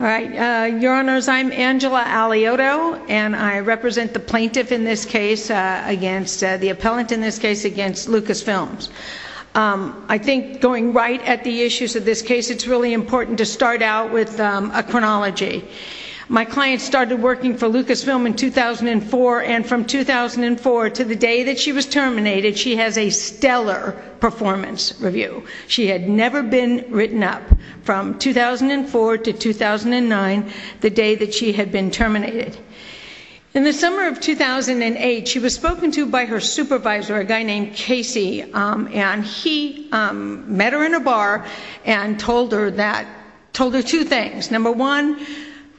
All right, your honors, I'm Angela Aliotto and I represent the plaintiff in this case against, the appellant in this case against Lucasfilms. I think going right at the issues of this case, it's really important to start out with a chronology. My client started working for Lucasfilm in 2004 and from 2004 to the day that she was terminated, she has a stellar performance review. She had never been written up from 2004 to 2009, the day that she had been terminated. In the summer of 2008, she was spoken to by her supervisor, a guy named Casey, and he met her in a bar and told her that, told her two things. Number one,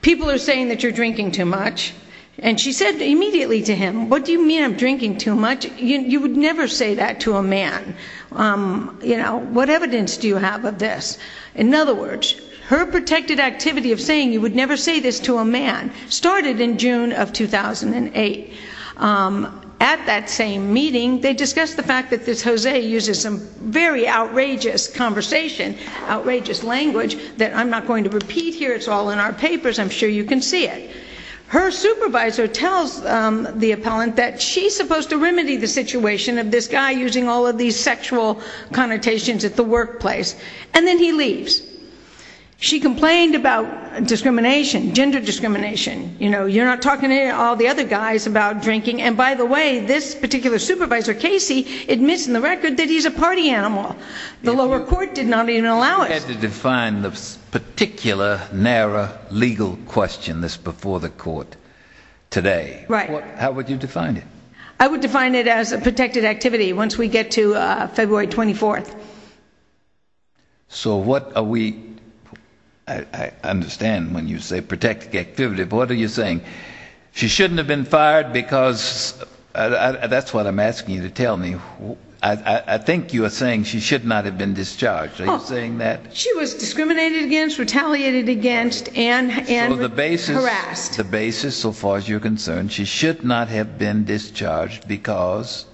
people are saying that you're drinking too much. And she said immediately to him, what do you mean I'm you know, what evidence do you have of this? In other words, her protected activity of saying you would never say this to a man started in June of 2008. At that same meeting, they discussed the fact that this Jose uses some very outrageous conversation, outrageous language that I'm not going to repeat here, it's all in our papers, I'm sure you can see it. Her supervisor tells the appellant that she's supposed to remedy the situation of this guy using all of these sexual connotations at the workplace. And then he leaves. She complained about discrimination, gender discrimination, you know, you're not talking to all the other guys about drinking. And by the way, this particular supervisor, Casey admits in the record that he's a party animal. The lower court did not even allow us to define the particular narrow legal question this before the court today, right? How would you define it? I would define it as a once we get to February 24th. So what are we, I understand when you say protected activity, what are you saying? She shouldn't have been fired because that's what I'm asking you to tell me. I think you are saying she should not have been discharged. Are you saying that? She was discriminated against, retaliated against, and harassed. The basis so far as you're concerned, she should not have been discharged because?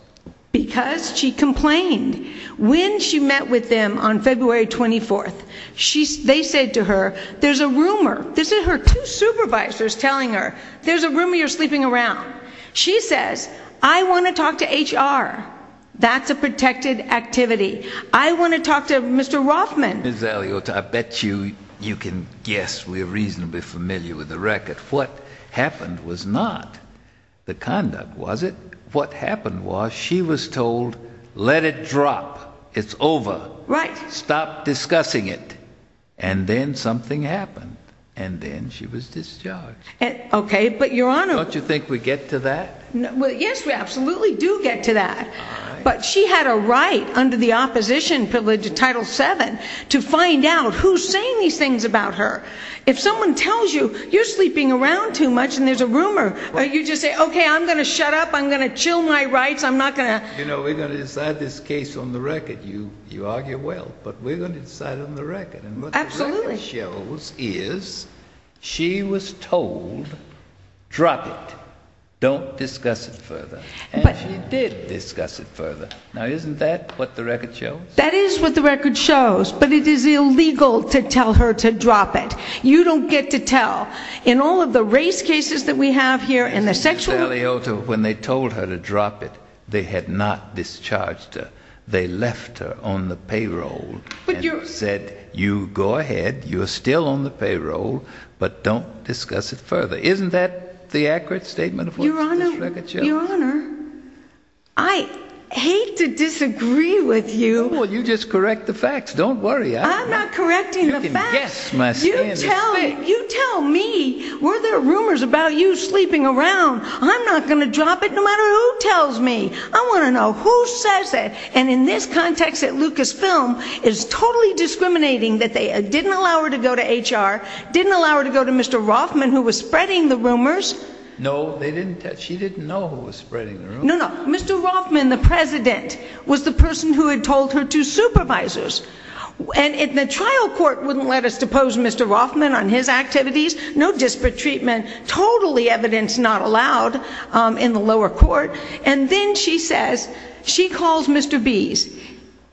Because she complained. When she met with them on February 24th, they said to her, there's a rumor, this is her two supervisors telling her, there's a rumor you're sleeping around. She says, I want to talk to HR. That's a protected activity. I want to talk to Mr. Rothman. Ms. Eliota, I bet you can guess we're reasonably familiar with the the conduct, was it? What happened was she was told, let it drop. It's over. Right. Stop discussing it. And then something happened. And then she was discharged. Okay. But your honor. Don't you think we get to that? Well, yes, we absolutely do get to that. But she had a right under the opposition privilege of Title VII to find out who's saying these things about her. If someone tells you, you're sleeping around too much and there's a rumor, you just say, okay, I'm going to shut up. I'm going to chill my rights. I'm not going to, you know, we're going to decide this case on the record. You, you argue well, but we're going to decide on the record. And what the record shows is she was told, drop it. Don't discuss it further. And she did discuss it further. Now, isn't that what the record shows? That is what the record shows, but it is illegal to tell her to in all of the race cases that we have here and the sexual. When they told her to drop it, they had not discharged her. They left her on the payroll and said, you go ahead. You're still on the payroll, but don't discuss it further. Isn't that the accurate statement of what the record shows? I hate to disagree with you. Well, you just correct the facts. Don't worry. I'm not rumors about you sleeping around. I'm not going to drop it. No matter who tells me, I want to know who says it. And in this context, that Lucasfilm is totally discriminating that they didn't allow her to go to HR. Didn't allow her to go to Mr. Rothman, who was spreading the rumors. No, they didn't touch. She didn't know who was spreading. No, no. Mr. Rothman. The president was the person who had told her to supervisors. And if the trial court wouldn't let us depose Mr. Rothman on his activities, no disparate treatment, totally evidence not allowed in the lower court. And then she says she calls Mr. Bees.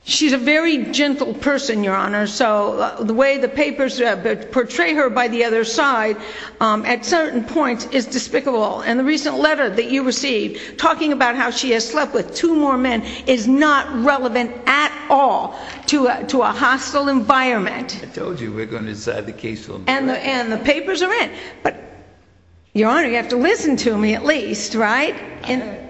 She's a very gentle person, Your Honor. So the way the papers portray her by the other side at certain points is despicable. And the recent letter that you received talking about how she has slept with two more men is not relevant at all to a hostile environment. I told you we're going to decide the case. And the papers are in. But Your Honor, you have to listen to me at least, right? Okay.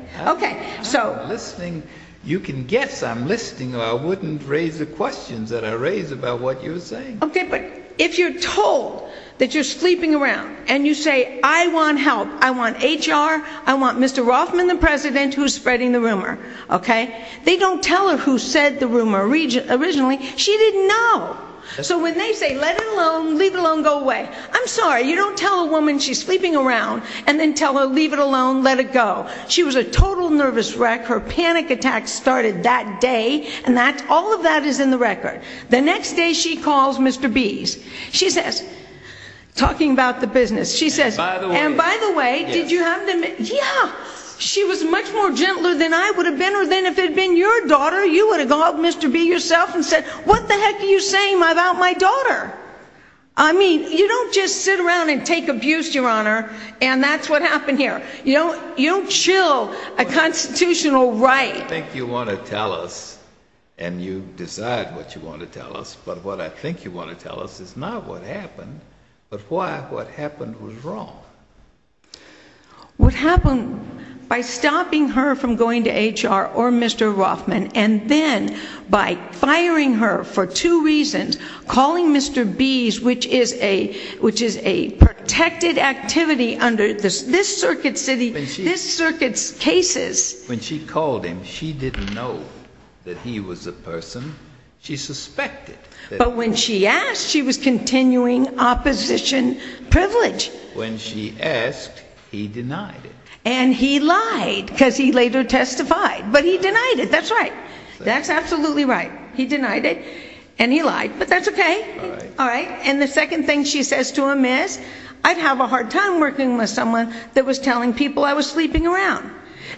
I'm listening. You can guess I'm listening or I wouldn't raise the questions that I raise about what you're saying. Okay. But if you're told that you're sleeping around and you say, I want help. I want HR. I want Mr. Rothman, the president who's spreading the rumor. Okay. They don't tell her who said the rumor region originally. She didn't know. So when they say, let it alone, leave alone, go away. I'm sorry. You don't tell a woman she's sleeping around and then tell her, leave it alone, let it go. She was a total nervous wreck. Her panic attack started that day. And that's all of that is in the record. The next day she calls Mr. Bees. She says, talking about the business, she says, and by the way, did you have them? Yeah. She was much more gentler than I would have been, or then if it had been your daughter, you would have called Mr. Be yourself and said, what the heck are you saying about my daughter? I mean, you don't just sit around and take abuse, Your Honor. And that's what happened here. You don't chill a constitutional right. I think you want to tell us and you decide what you want to tell us. But what I think you want to tell us is not what happened, but why what happened was wrong. What happened by stopping her from going to HR or Mr. Rothman, and then by firing her for two reasons, calling Mr. Bees, which is a, which is a protected activity under this, this circuit city, this circuits cases. When she called him, she didn't know that he was a person she suspected. But when she asked, she was continuing opposition privilege. When she asked, he denied it. And he lied because he later testified, but he denied it. That's right. That's absolutely right. He denied it and he lied, but that's okay. All right. And the second thing she says to him is I'd have a hard time working with that was telling people I was sleeping around.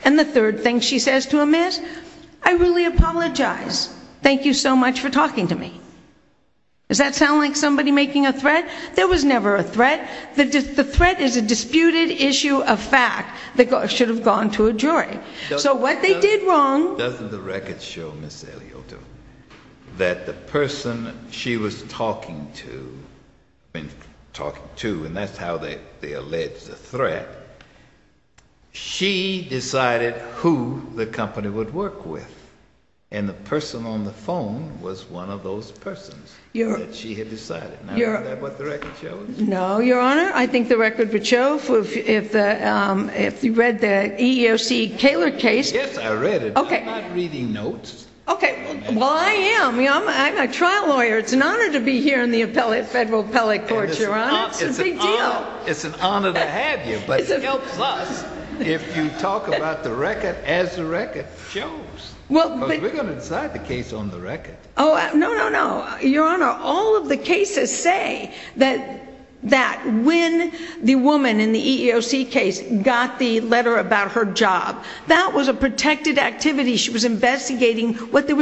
And the third thing she says to him is I really apologize. Thank you so much for talking to me. Does that sound like somebody making a threat? There was never a threat. The threat is a disputed issue of fact that should have gone to a jury. So what they did wrong. Doesn't the record show Ms. Elioto that the person she was talking to, been talking to, and that's how they, they allege the threat. She decided who the company would work with. And the person on the phone was one of those persons that she had decided. Now is that what the record shows? No, Your Honor. I think the record would show if, if, um, if you read the EEOC Kaler case. Yes, I read it. Okay. I'm not reading notes. Okay. Well, I am. I'm a trial lawyer. It's an honor to be here in the appellate, federal appellate court, Your Honor. It's a big deal. It's an honor to have you, but it helps us if you talk about the record as the record shows. Well, we're going to decide the case on the record. Oh, no, no, no, Your Honor. All of the cases say that, that when the woman in the EEOC case got the letter about her job, that was a protected activity. She was investigating what the, um,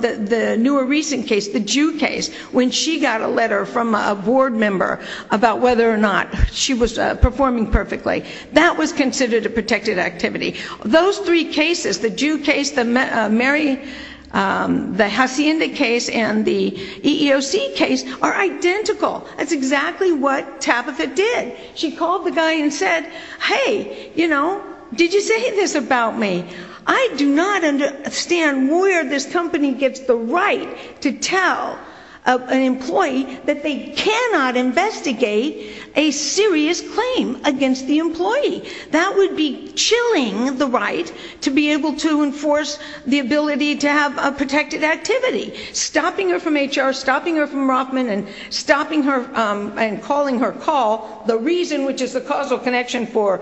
the, the newer recent case, the Jew case, when she got a letter from a board member about whether or not she was performing perfectly, that was considered a protected activity. Those three cases, the Jew case, the Mary, um, the Hacienda case and the EEOC case are identical. That's exactly what Tabitha did. She called the guy and said, hey, you know, did you say this about me? I do not understand where this company gets the right to tell an employee that they cannot investigate a serious claim against the employee. That would be chilling the right to be able to enforce the ability to have a protected activity. Stopping her from HR, stopping her from Rothman and stopping her, um, and calling her call, the reason, which is the causal connection for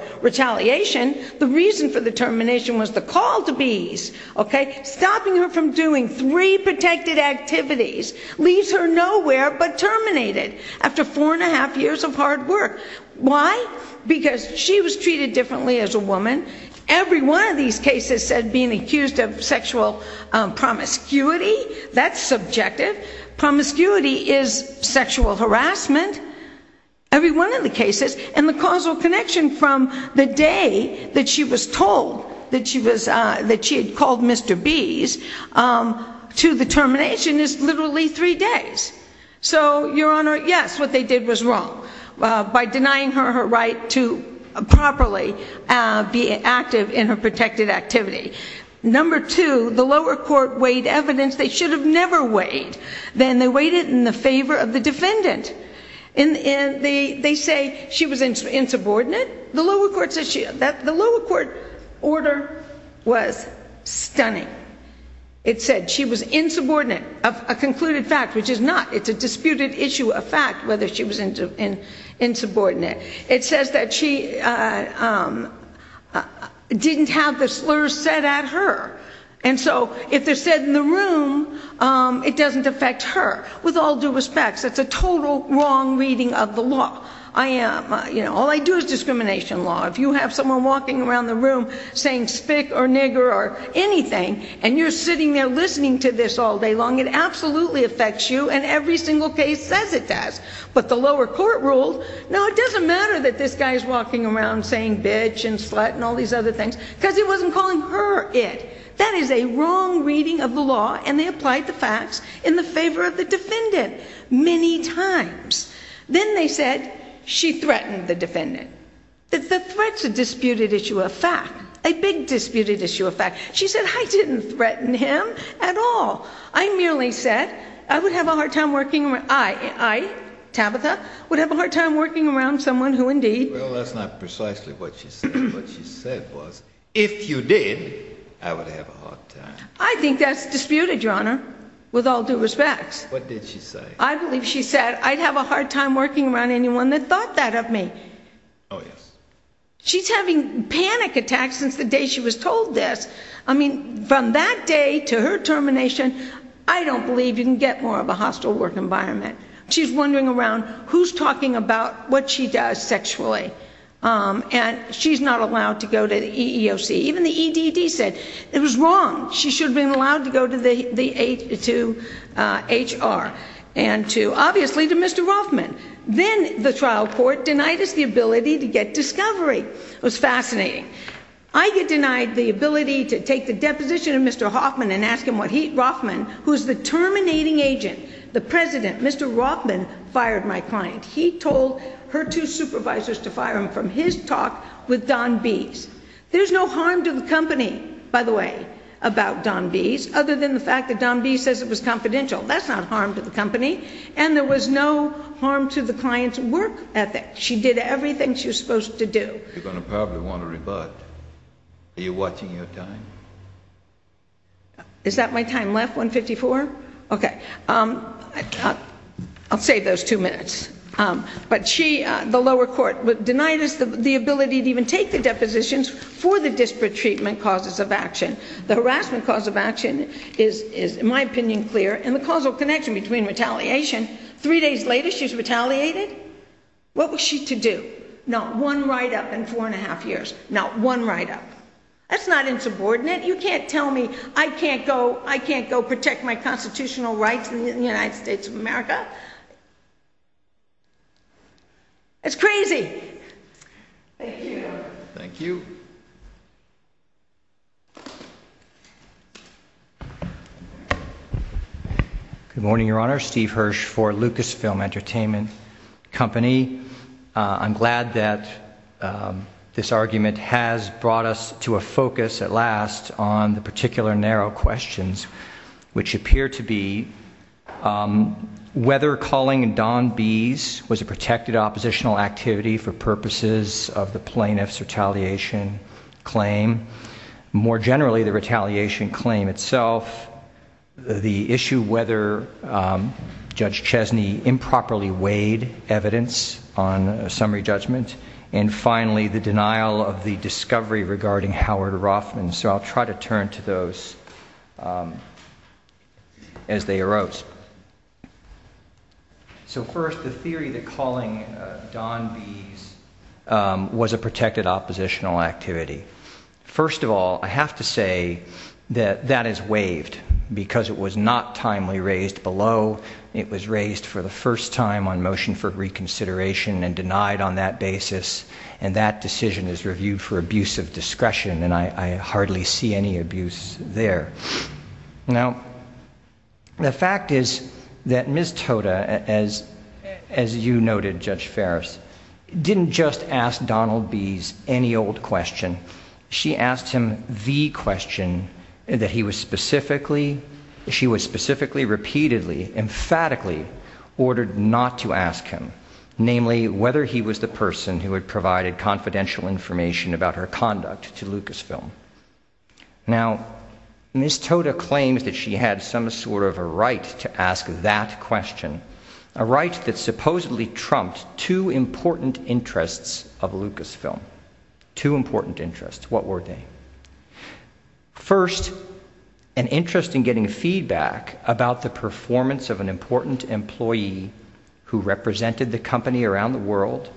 termination was the call to bees, okay? Stopping her from doing three protected activities leaves her nowhere but terminated after four and a half years of hard work. Why? Because she was treated differently as a woman. Every one of these cases said being accused of sexual, um, promiscuity, that's subjective. Promiscuity is sexual harassment. Every one of the cases and the causal connection from the day that she was told that she was, uh, that she had called Mr. Bees, um, to the termination is literally three days. So, your honor, yes, what they did was wrong, uh, by denying her her right to properly, uh, be active in her protected activity. Number two, the lower court weighed evidence they should have never weighed. Then they weighed it in the favor of the defendant. And, and they, they say she was insubordinate. The lower court said she, that the lower court order was stunning. It said she was insubordinate of a concluded fact, which is not. It's a disputed issue of fact whether she was insubordinate. It says that she, uh, um, didn't have the slurs said at her. And so, if they're said in the room, um, it doesn't affect her. With all due respects, that's a total wrong reading of the law. I am, uh, you know, all I do is discrimination law. If you have someone walking around the room saying spick or nigger or anything, and you're sitting there listening to this all day long, it absolutely affects you. And every single case says it does. But the lower court ruled, no, it doesn't matter that this guy's walking around saying bitch and slut and all these other things, because he wasn't calling her it. That is a wrong reading of the law. And they applied the she threatened the defendant. That the threats are disputed issue of fact, a big disputed issue of fact. She said, I didn't threaten him at all. I merely said I would have a hard time working around, I, I, Tabitha, would have a hard time working around someone who indeed. Well, that's not precisely what she said. What she said was, if you did, I would have a hard time. I think that's disputed, Your Honor, with all due respects. What did she say? I believe she said I'd have a thought that of me. Oh, yes. She's having panic attacks since the day she was told this. I mean, from that day to her termination, I don't believe you can get more of a hostile work environment. She's wondering around who's talking about what she does sexually. And she's not allowed to go to the EEOC. Even the EDD said it was wrong. She should have been allowed to go to the, to HR and to obviously to Mr. Hoffman. Then the trial court denied us the ability to get discovery. It was fascinating. I get denied the ability to take the deposition of Mr. Hoffman and ask him what he, Hoffman, who's the terminating agent, the president, Mr. Hoffman, fired my client. He told her two supervisors to fire him from his talk with Don B's. There's no company, by the way, about Don B's other than the fact that Don B says it was confidential. That's not harm to the company. And there was no harm to the client's work ethic. She did everything she was supposed to do. You're going to probably want to rebut. Are you watching your time? Is that my time left? 154? Okay. I'll save those two minutes. But she, the lower court denied us the ability to even take the depositions for the disparate treatment causes of action. The harassment cause of action is, in my opinion, clear and the causal connection between retaliation. Three days later, she's retaliated. What was she to do? Not one write-up in four and a half years. Not one write-up. That's not insubordinate. You can't tell me I can't go, I can't go protect my constitutional rights in the United States of America. It's crazy. Thank you. Thank you. Good morning, Your Honor. Steve Hirsch for Lucasfilm Entertainment Company. I'm glad that this argument has brought us to a focus at last on the particular narrow questions, which appear to be whether calling Don Bees was a protected oppositional activity for purposes of the plaintiff's retaliation claim. More generally, the retaliation claim itself, the issue whether Judge Chesney improperly weighed evidence on a summary judgment, and finally, the denial of the discovery regarding Howard Roffman. So I'll try to turn to those as they arose. So first, the theory that calling Don Bees was a protected oppositional activity. First of all, I have to say that that is waived because it was not timely raised below. It was reviewed for abuse of discretion, and I hardly see any abuse there. Now, the fact is that Ms. Toda, as you noted, Judge Farris, didn't just ask Donald Bees any old question. She asked him the question that he was specifically, she was specifically, repeatedly, emphatically ordered not to ask him, namely, whether he was the person who had provided confidential information about her conduct to Lucasfilm. Now, Ms. Toda claims that she had some sort of a right to ask that question, a right that supposedly trumped two important interests of Lucasfilm, two important interests. What were they? First, an interest in getting feedback about the employee who represented the company around the world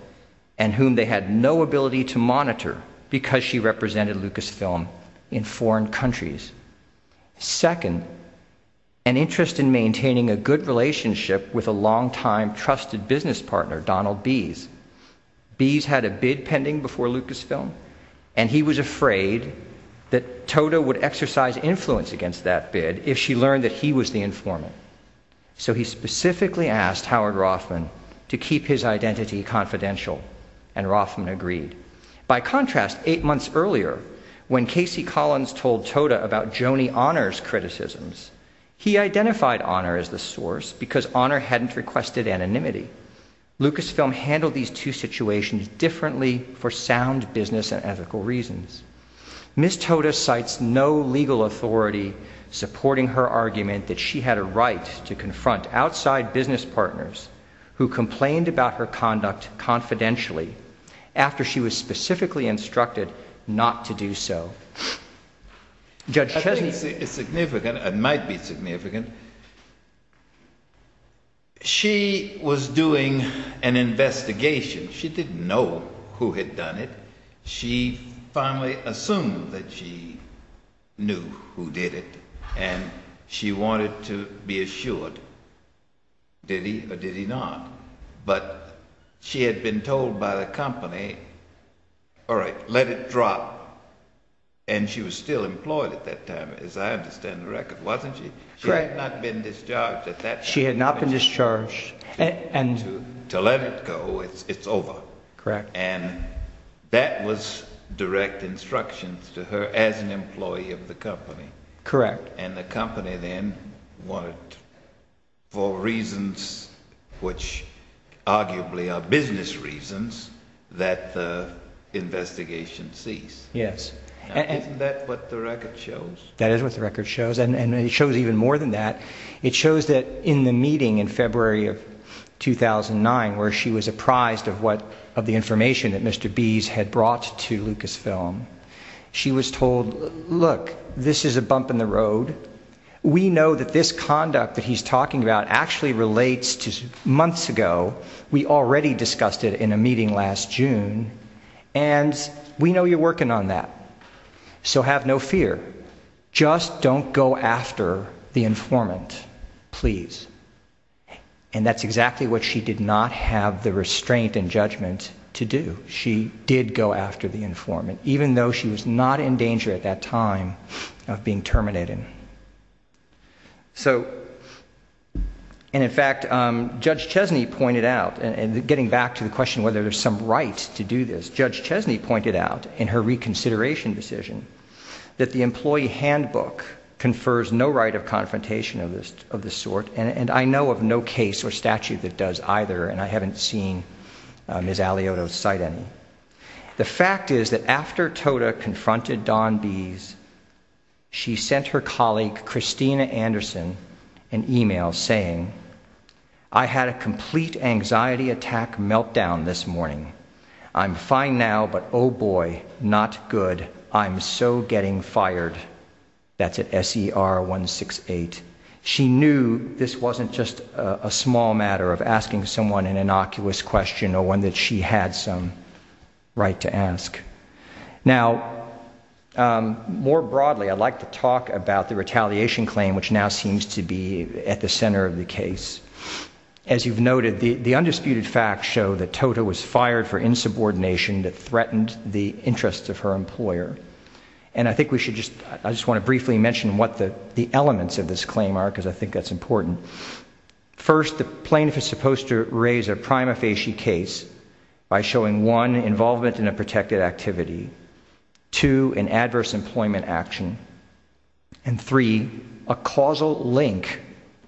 and whom they had no ability to monitor because she represented Lucasfilm in foreign countries. Second, an interest in maintaining a good relationship with a longtime trusted business partner, Donald Bees. Bees had a bid pending before Lucasfilm, and he was afraid that Toda would exercise influence against that bid if she learned that he was the informant, so he specifically asked Howard Rothman to keep his identity confidential, and Rothman agreed. By contrast, eight months earlier, when Casey Collins told Toda about Joni Honor's criticisms, he identified Honor as the source because Honor hadn't requested anonymity. Lucasfilm handled these two situations differently for sound business and argument that she had a right to confront outside business partners who complained about her conduct confidentially after she was specifically instructed not to do so. I think it's significant, it might be significant. She was doing an investigation. She didn't know who had done it. She finally assumed that she knew who did it, and she wanted to be assured, did he or did he not? But she had been told by the company, all right, let it drop, and she was still employed at that time, as I understand the record, wasn't she? Correct. She had not been discharged at that time. She had not been discharged. And to let it go, it's over. Correct. And that was direct instructions to her as an employee of the company. Correct. And the company then wanted, for reasons which arguably are business reasons, that the investigation cease. Yes. Isn't that what the record shows? That is what the record shows, and it shows even more than that. It shows that in the meeting in February of 2009, where she was apprised of the information that Mr. Bees had brought to Lucasfilm, she was told, look, this is a bump in the road. We know that this conduct that he's talking about actually relates to months ago. We already discussed it in a meeting last June, and we know you're working on that. So have no fear. Just don't go after the informant, please. And that's exactly what she did not have the restraint and judgment to do. She did go after the informant, even though she was not in danger at that time of being terminated. And in fact, Judge Chesney pointed out, and getting back to the question whether there's some right to do this, Judge Chesney pointed out in her reconsideration decision that the employee handbook confers no right of confrontation of this sort, and I know of no case or statute that does either, and I haven't seen Ms. Alioto's cite any. The fact is that after Toda confronted Don Bees, she sent her colleague Christina Anderson an email saying, I had a complete anxiety attack meltdown this morning. I'm fine now, but oh boy, not good. I'm so getting fired. That's at SER 168. She knew this wasn't just a small matter of asking someone an innocuous question or one that she had some right to ask. Now, more broadly, I'd like to talk about the retaliation claim, which now seems to be at the center of the case. As you've noted, the undisputed facts show that Toda was fired for insubordination that threatened the interests of her employer. And I think we should just, I just want to briefly mention what the elements of this claim are, because I think that's important. First, the plaintiff is supposed to raise a prima facie case by showing, one, involvement in a protected activity, two, an adverse employment action, and three, a causal link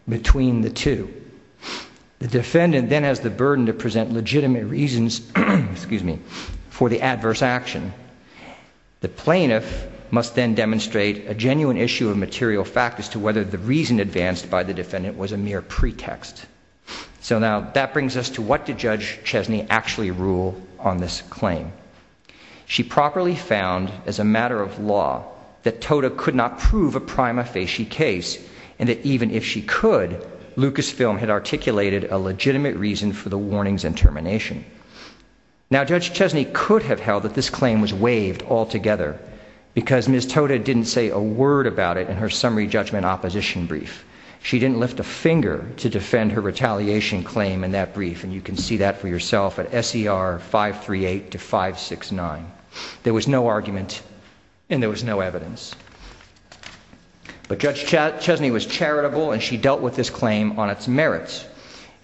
between the two. The defendant then has the burden to present legitimate reasons, excuse me, for the adverse action. The plaintiff must then demonstrate a genuine issue of material fact as to whether the reason advanced by the defendant was a mere pretext. So now, that brings us to what did Judge Chesney actually rule on this claim? She properly found, as a matter of law, that Toda could not prove a prima facie case, and that even if she could, Lucasfilm had articulated a legitimate reason for the warnings and termination. Now, Judge Chesney could have held that this claim was waived altogether, because Ms. Toda didn't say a word about it in her summary judgment opposition brief. She didn't lift a finger to defend her retaliation claim in that brief, and you can see that for yourself at SER 538 to 569. There was no argument, and there was no evidence. But Judge Chesney was charitable, and she dealt with this claim on its merits.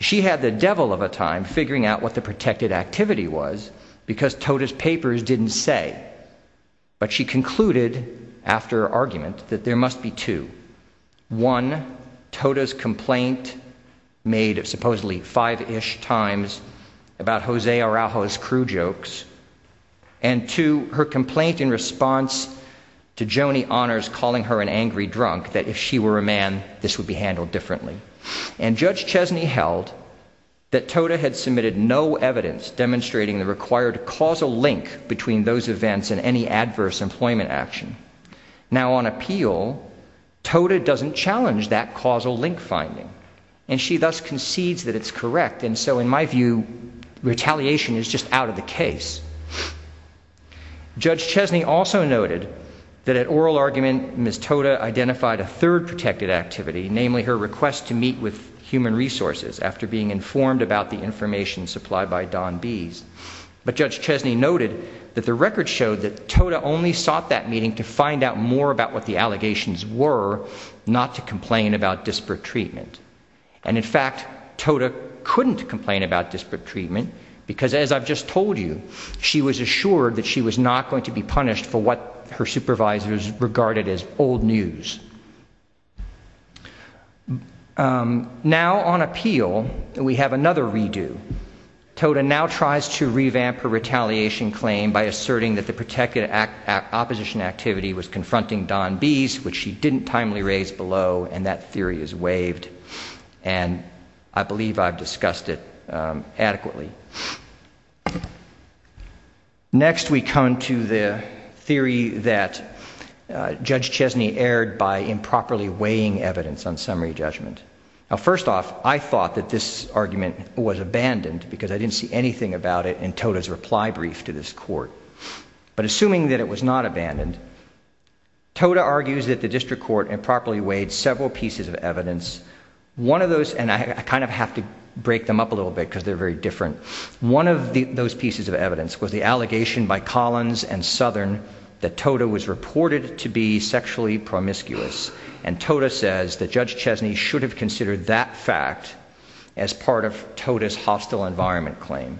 She had the devil of a time figuring out what the protected activity was, because Toda's papers didn't say. But she concluded, after argument, that there must be two. One, Toda's complaint made of supposedly five-ish times about Jose Araujo's crew jokes, and two, her complaint in response to Joni Honors calling her an angry drunk, that if she were a man, this would be handled differently. And Judge Chesney held that Toda had submitted no evidence demonstrating the required causal link between those events and any adverse employment action. Now, on appeal, Toda doesn't challenge that causal link finding, and she thus concedes that it's correct, and so, in my view, retaliation is just out of the case. Judge Chesney also noted that at oral argument, Ms. Toda identified a third protected activity, namely her request to meet with human resources after being informed about the information supplied by Don Bees. But Judge Chesney noted that the record showed that Toda only sought that meeting to find out more about what the allegations were, not to complain about disparate treatment. And, in fact, Toda couldn't complain about disparate treatment, because, as I've just told you, she was assured that she was not going to be punished for what her supervisors regarded as old news. Now, on appeal, we have another redo. Toda now tries to revamp her retaliation claim by asserting that the protected opposition activity was confronting Don Bees, which she didn't timely raise below, and that theory is waived. And I believe I've discussed it adequately. Next, we come to the theory that Judge Chesney erred by improperly weighing evidence on summary judgment. Now, first off, I thought that this argument was abandoned, because I didn't see anything about it in Toda's reply brief to this court. But, assuming that it was not abandoned, Toda argues that the district court improperly weighed several pieces of evidence. One of those, and I kind of have to break them up a little bit, because they're very different One of those pieces of evidence was the allegation by Collins and Southern that Toda was reported to be sexually promiscuous, and Toda says that Judge Chesney should have considered that fact as part of Toda's hostile environment claim.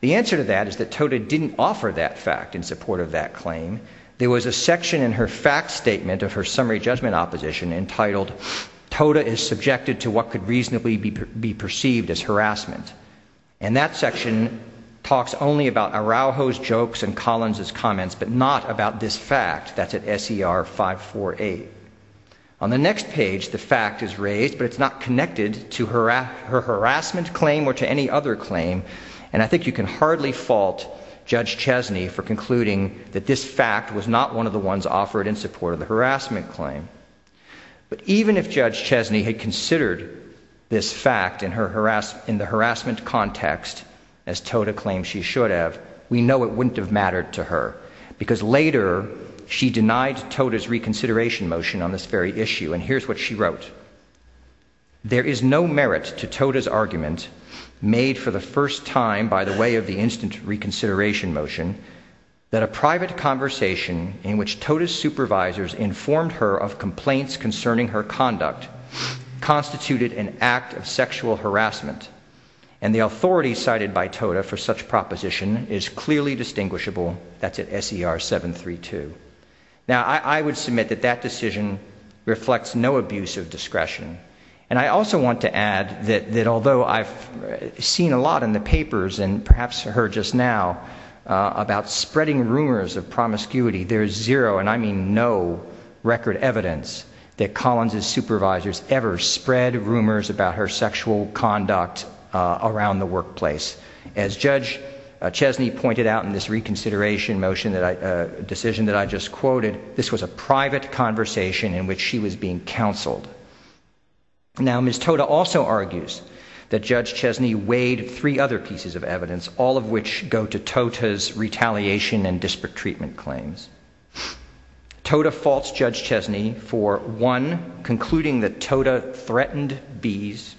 The answer to that is that Toda didn't offer that fact in support of that claim. There was a section in her fact statement of her summary judgment opposition entitled, Toda is subjected to what could reasonably be perceived as harassment. And that section talks only about Araujo's jokes and Collins' comments, but not about this fact that's at SER 548. On the next page, the fact is raised, but it's not connected to her harassment claim or to any other claim, and I think you can hardly fault Judge Chesney for concluding that this fact was not one of the ones offered in support of the harassment claim. But even if this fact in the harassment context, as Toda claims she should have, we know it wouldn't have mattered to her, because later she denied Toda's reconsideration motion on this very issue, and here's what she wrote. There is no merit to Toda's argument, made for the first time by the way of the instant reconsideration motion, that a private conversation in which Toda's supervisors informed her of complaints concerning her conduct constituted an act of sexual harassment, and the authority cited by Toda for such proposition is clearly distinguishable. That's at SER 732. Now, I would submit that that decision reflects no abuse of discretion, and I also want to add that although I've seen a lot in the papers and perhaps heard just now about spreading rumors of promiscuity, there's zero, and I mean no, record evidence that Collins' supervisors ever spread rumors about her sexual conduct around the workplace. As Judge Chesney pointed out in this reconsideration motion that I, decision that I just quoted, this was a private conversation in which she was being counseled. Now, Ms. Toda also argues that Judge Chesney weighed three other pieces of evidence, all of which go to Toda's retaliation and disparate treatment claims. Toda faults Judge Chesney for, one, concluding that Toda threatened bees,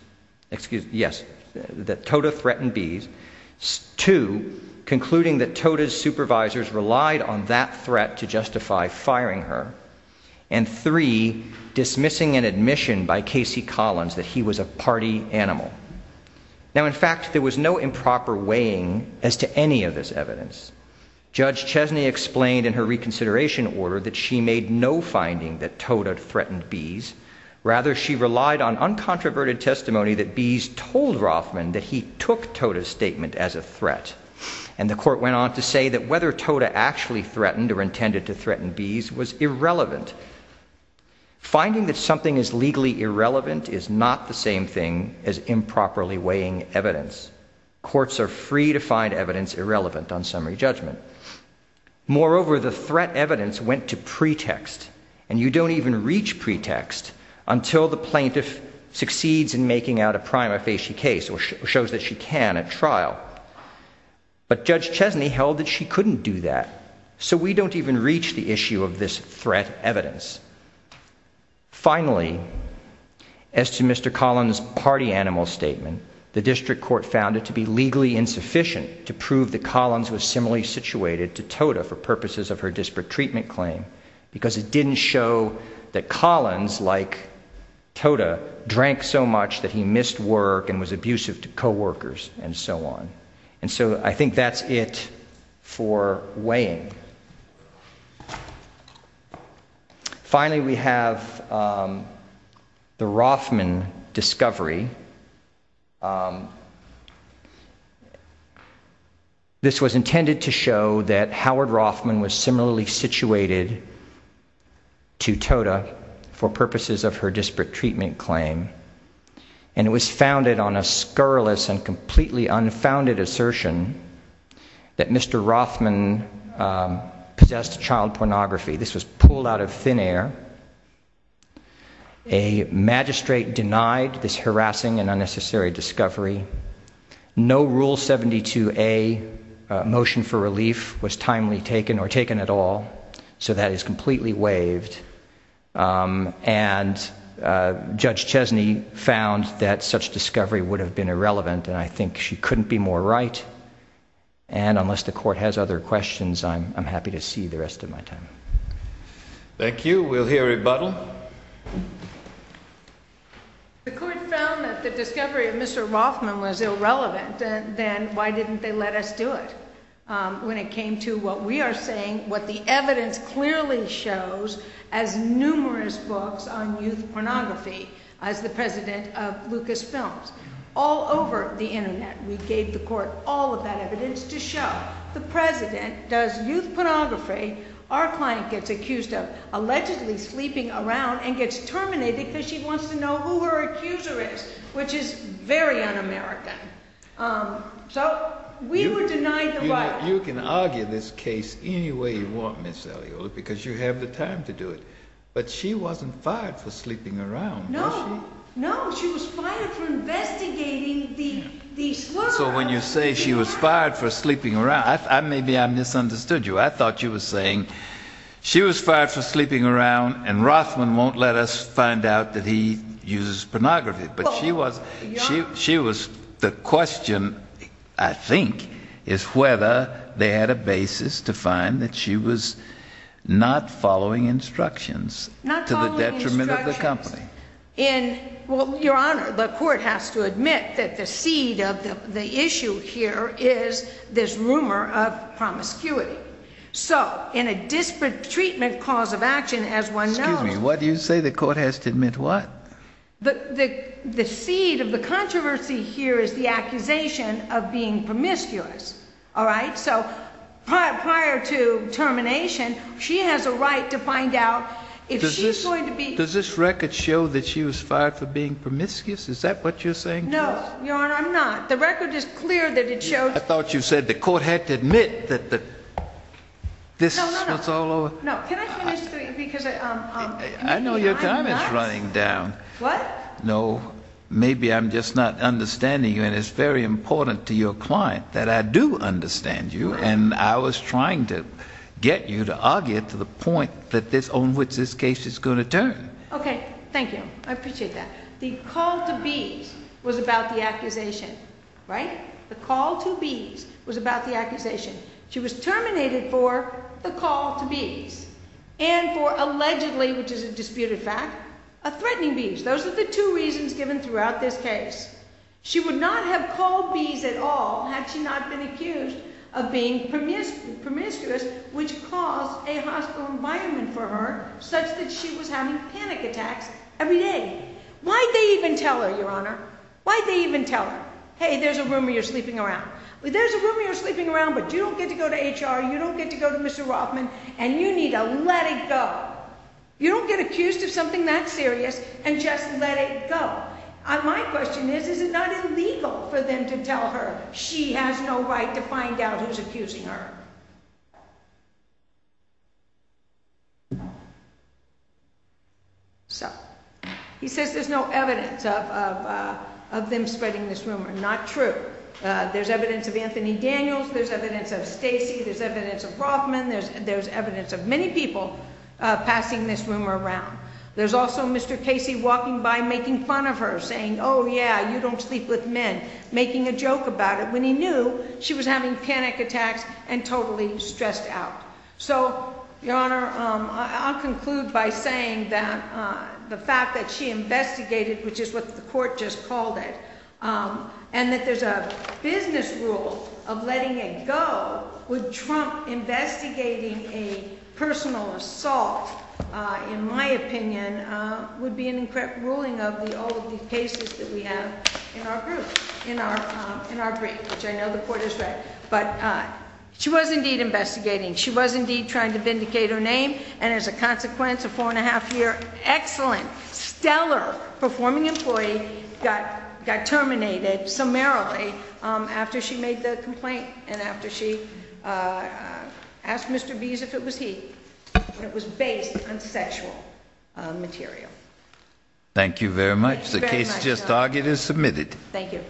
excuse, yes, that Toda threatened bees, two, concluding that Toda's supervisors relied on that threat to justify firing her, and three, dismissing an admission by Casey Collins that he was a party animal. Now, in fact, there was no improper weighing as to any of this evidence. Judge Chesney explained in her reconsideration order that she made no finding that Toda threatened bees. Rather, she relied on uncontroverted testimony that bees told Rothman that he took Toda's statement as a threat, and the court went on to say that whether Toda actually threatened or intended to threaten bees was irrelevant. Finding that something is legally irrelevant is not the same thing as improperly weighing evidence. Courts are free to find evidence irrelevant on summary judgment. Moreover, the threat evidence went to pretext, and you don't even reach pretext until the plaintiff succeeds in making out a prima facie case or shows that she can at trial. But Judge Chesney held that she couldn't do that, so we don't even reach the issue of this threat evidence. Finally, as to Mr. Collins' party animal statement, the district court found it to be legally insufficient to prove that Collins was similarly situated to Toda for purposes of her disparate treatment claim because it didn't show that Collins, like Toda, drank so much that he missed work and was abusive to co-workers and so on. And so I think that's it for weighing. Finally, we have the Rothman discovery. This was intended to show that Howard Rothman was similarly situated to Toda for purposes of her disparate treatment claim, and it was founded on a scurrilous and completely unfounded assertion that Mr. Rothman possessed child pornography. This was pulled out of thin air. A magistrate denied this harassing and unnecessary discovery. No Rule 72A motion for relief was timely taken or taken at all, so that is completely waived. And Judge Chesney found that such discovery would have been irrelevant, and I think she couldn't be more right. And unless the Court has other questions, I'm happy to see the rest of my time. Thank you. We'll hear a rebuttal. The Court found that the discovery of Mr. Rothman was irrelevant, then why didn't they let us do it when it came to what we are saying, what the evidence clearly shows, as numerous books on all over the internet. We gave the Court all of that evidence to show the President does youth pornography. Our client gets accused of allegedly sleeping around and gets terminated because she wants to know who her accuser is, which is very un-American. So we were denied the right. You can argue this case any way you want, Ms. Eliola, because you have the time to do it, but she wasn't fired for sleeping around, was she? No, no, she was fired for investigating the... So when you say she was fired for sleeping around, maybe I misunderstood you. I thought you were saying she was fired for sleeping around and Rothman won't let us find out that he uses pornography, but she was... the question, I think, is whether they had a basis to find that she was not following instructions to the detriment of the company. Well, Your Honor, the Court has to admit that the seed of the issue here is this rumor of promiscuity. So in a disparate treatment cause of action, as one knows... Excuse me, what do you say the Court has to admit what? The seed of the controversy here is the accusation of being promiscuous, all right? So prior to termination, she has a right to find out if she's going to be... Does this record show that she was fired for being promiscuous? Is that what you're saying to us? No, Your Honor, I'm not. The record is clear that it shows... I thought you said the Court had to admit that this was all over. No, can I finish because... I know your time is running down. What? No, maybe I'm just not trying to get you to argue to the point on which this case is going to turn. Okay, thank you. I appreciate that. The call to bees was about the accusation, right? The call to bees was about the accusation. She was terminated for the call to bees and for allegedly, which is a disputed fact, a threatening bees. Those are the two reasons given throughout this case. She would not have bees at all had she not been accused of being promiscuous, which caused a hostile environment for her such that she was having panic attacks every day. Why'd they even tell her, Your Honor? Why'd they even tell her? Hey, there's a rumor you're sleeping around. There's a rumor you're sleeping around, but you don't get to go to HR, you don't get to go to Mr. Rothman, and you need to let it go. You don't get accused of something that serious and just let it go. My question is, is it not illegal for them to tell her she has no right to find out who's accusing her? So he says there's no evidence of them spreading this rumor. Not true. There's evidence of Anthony Daniels. There's evidence of Stacy. There's evidence of Rothman. There's evidence of many people passing this rumor around. There's also Mr. Casey walking by making fun of her saying, oh yeah, you don't sleep with men, making a joke about it when he knew she was having panic attacks and totally stressed out. So, Your Honor, I'll conclude by saying that the fact that she investigated, which is what the court just called it, and that there's a business rule of letting it go, would trump investigating a personal assault, in my opinion, would be an incorrect ruling of all of the cases that we have in our group, in our brief, which I know the court has read. But she was indeed investigating. She was indeed trying to vindicate her name, and as a consequence, a four-and-a-half-year, excellent, stellar performing employee got terminated summarily after she made the complaint and after she asked Mr. Bees if it was he, and it was based on sexual material. Thank you very much. The case just argued is submitted. Thank you.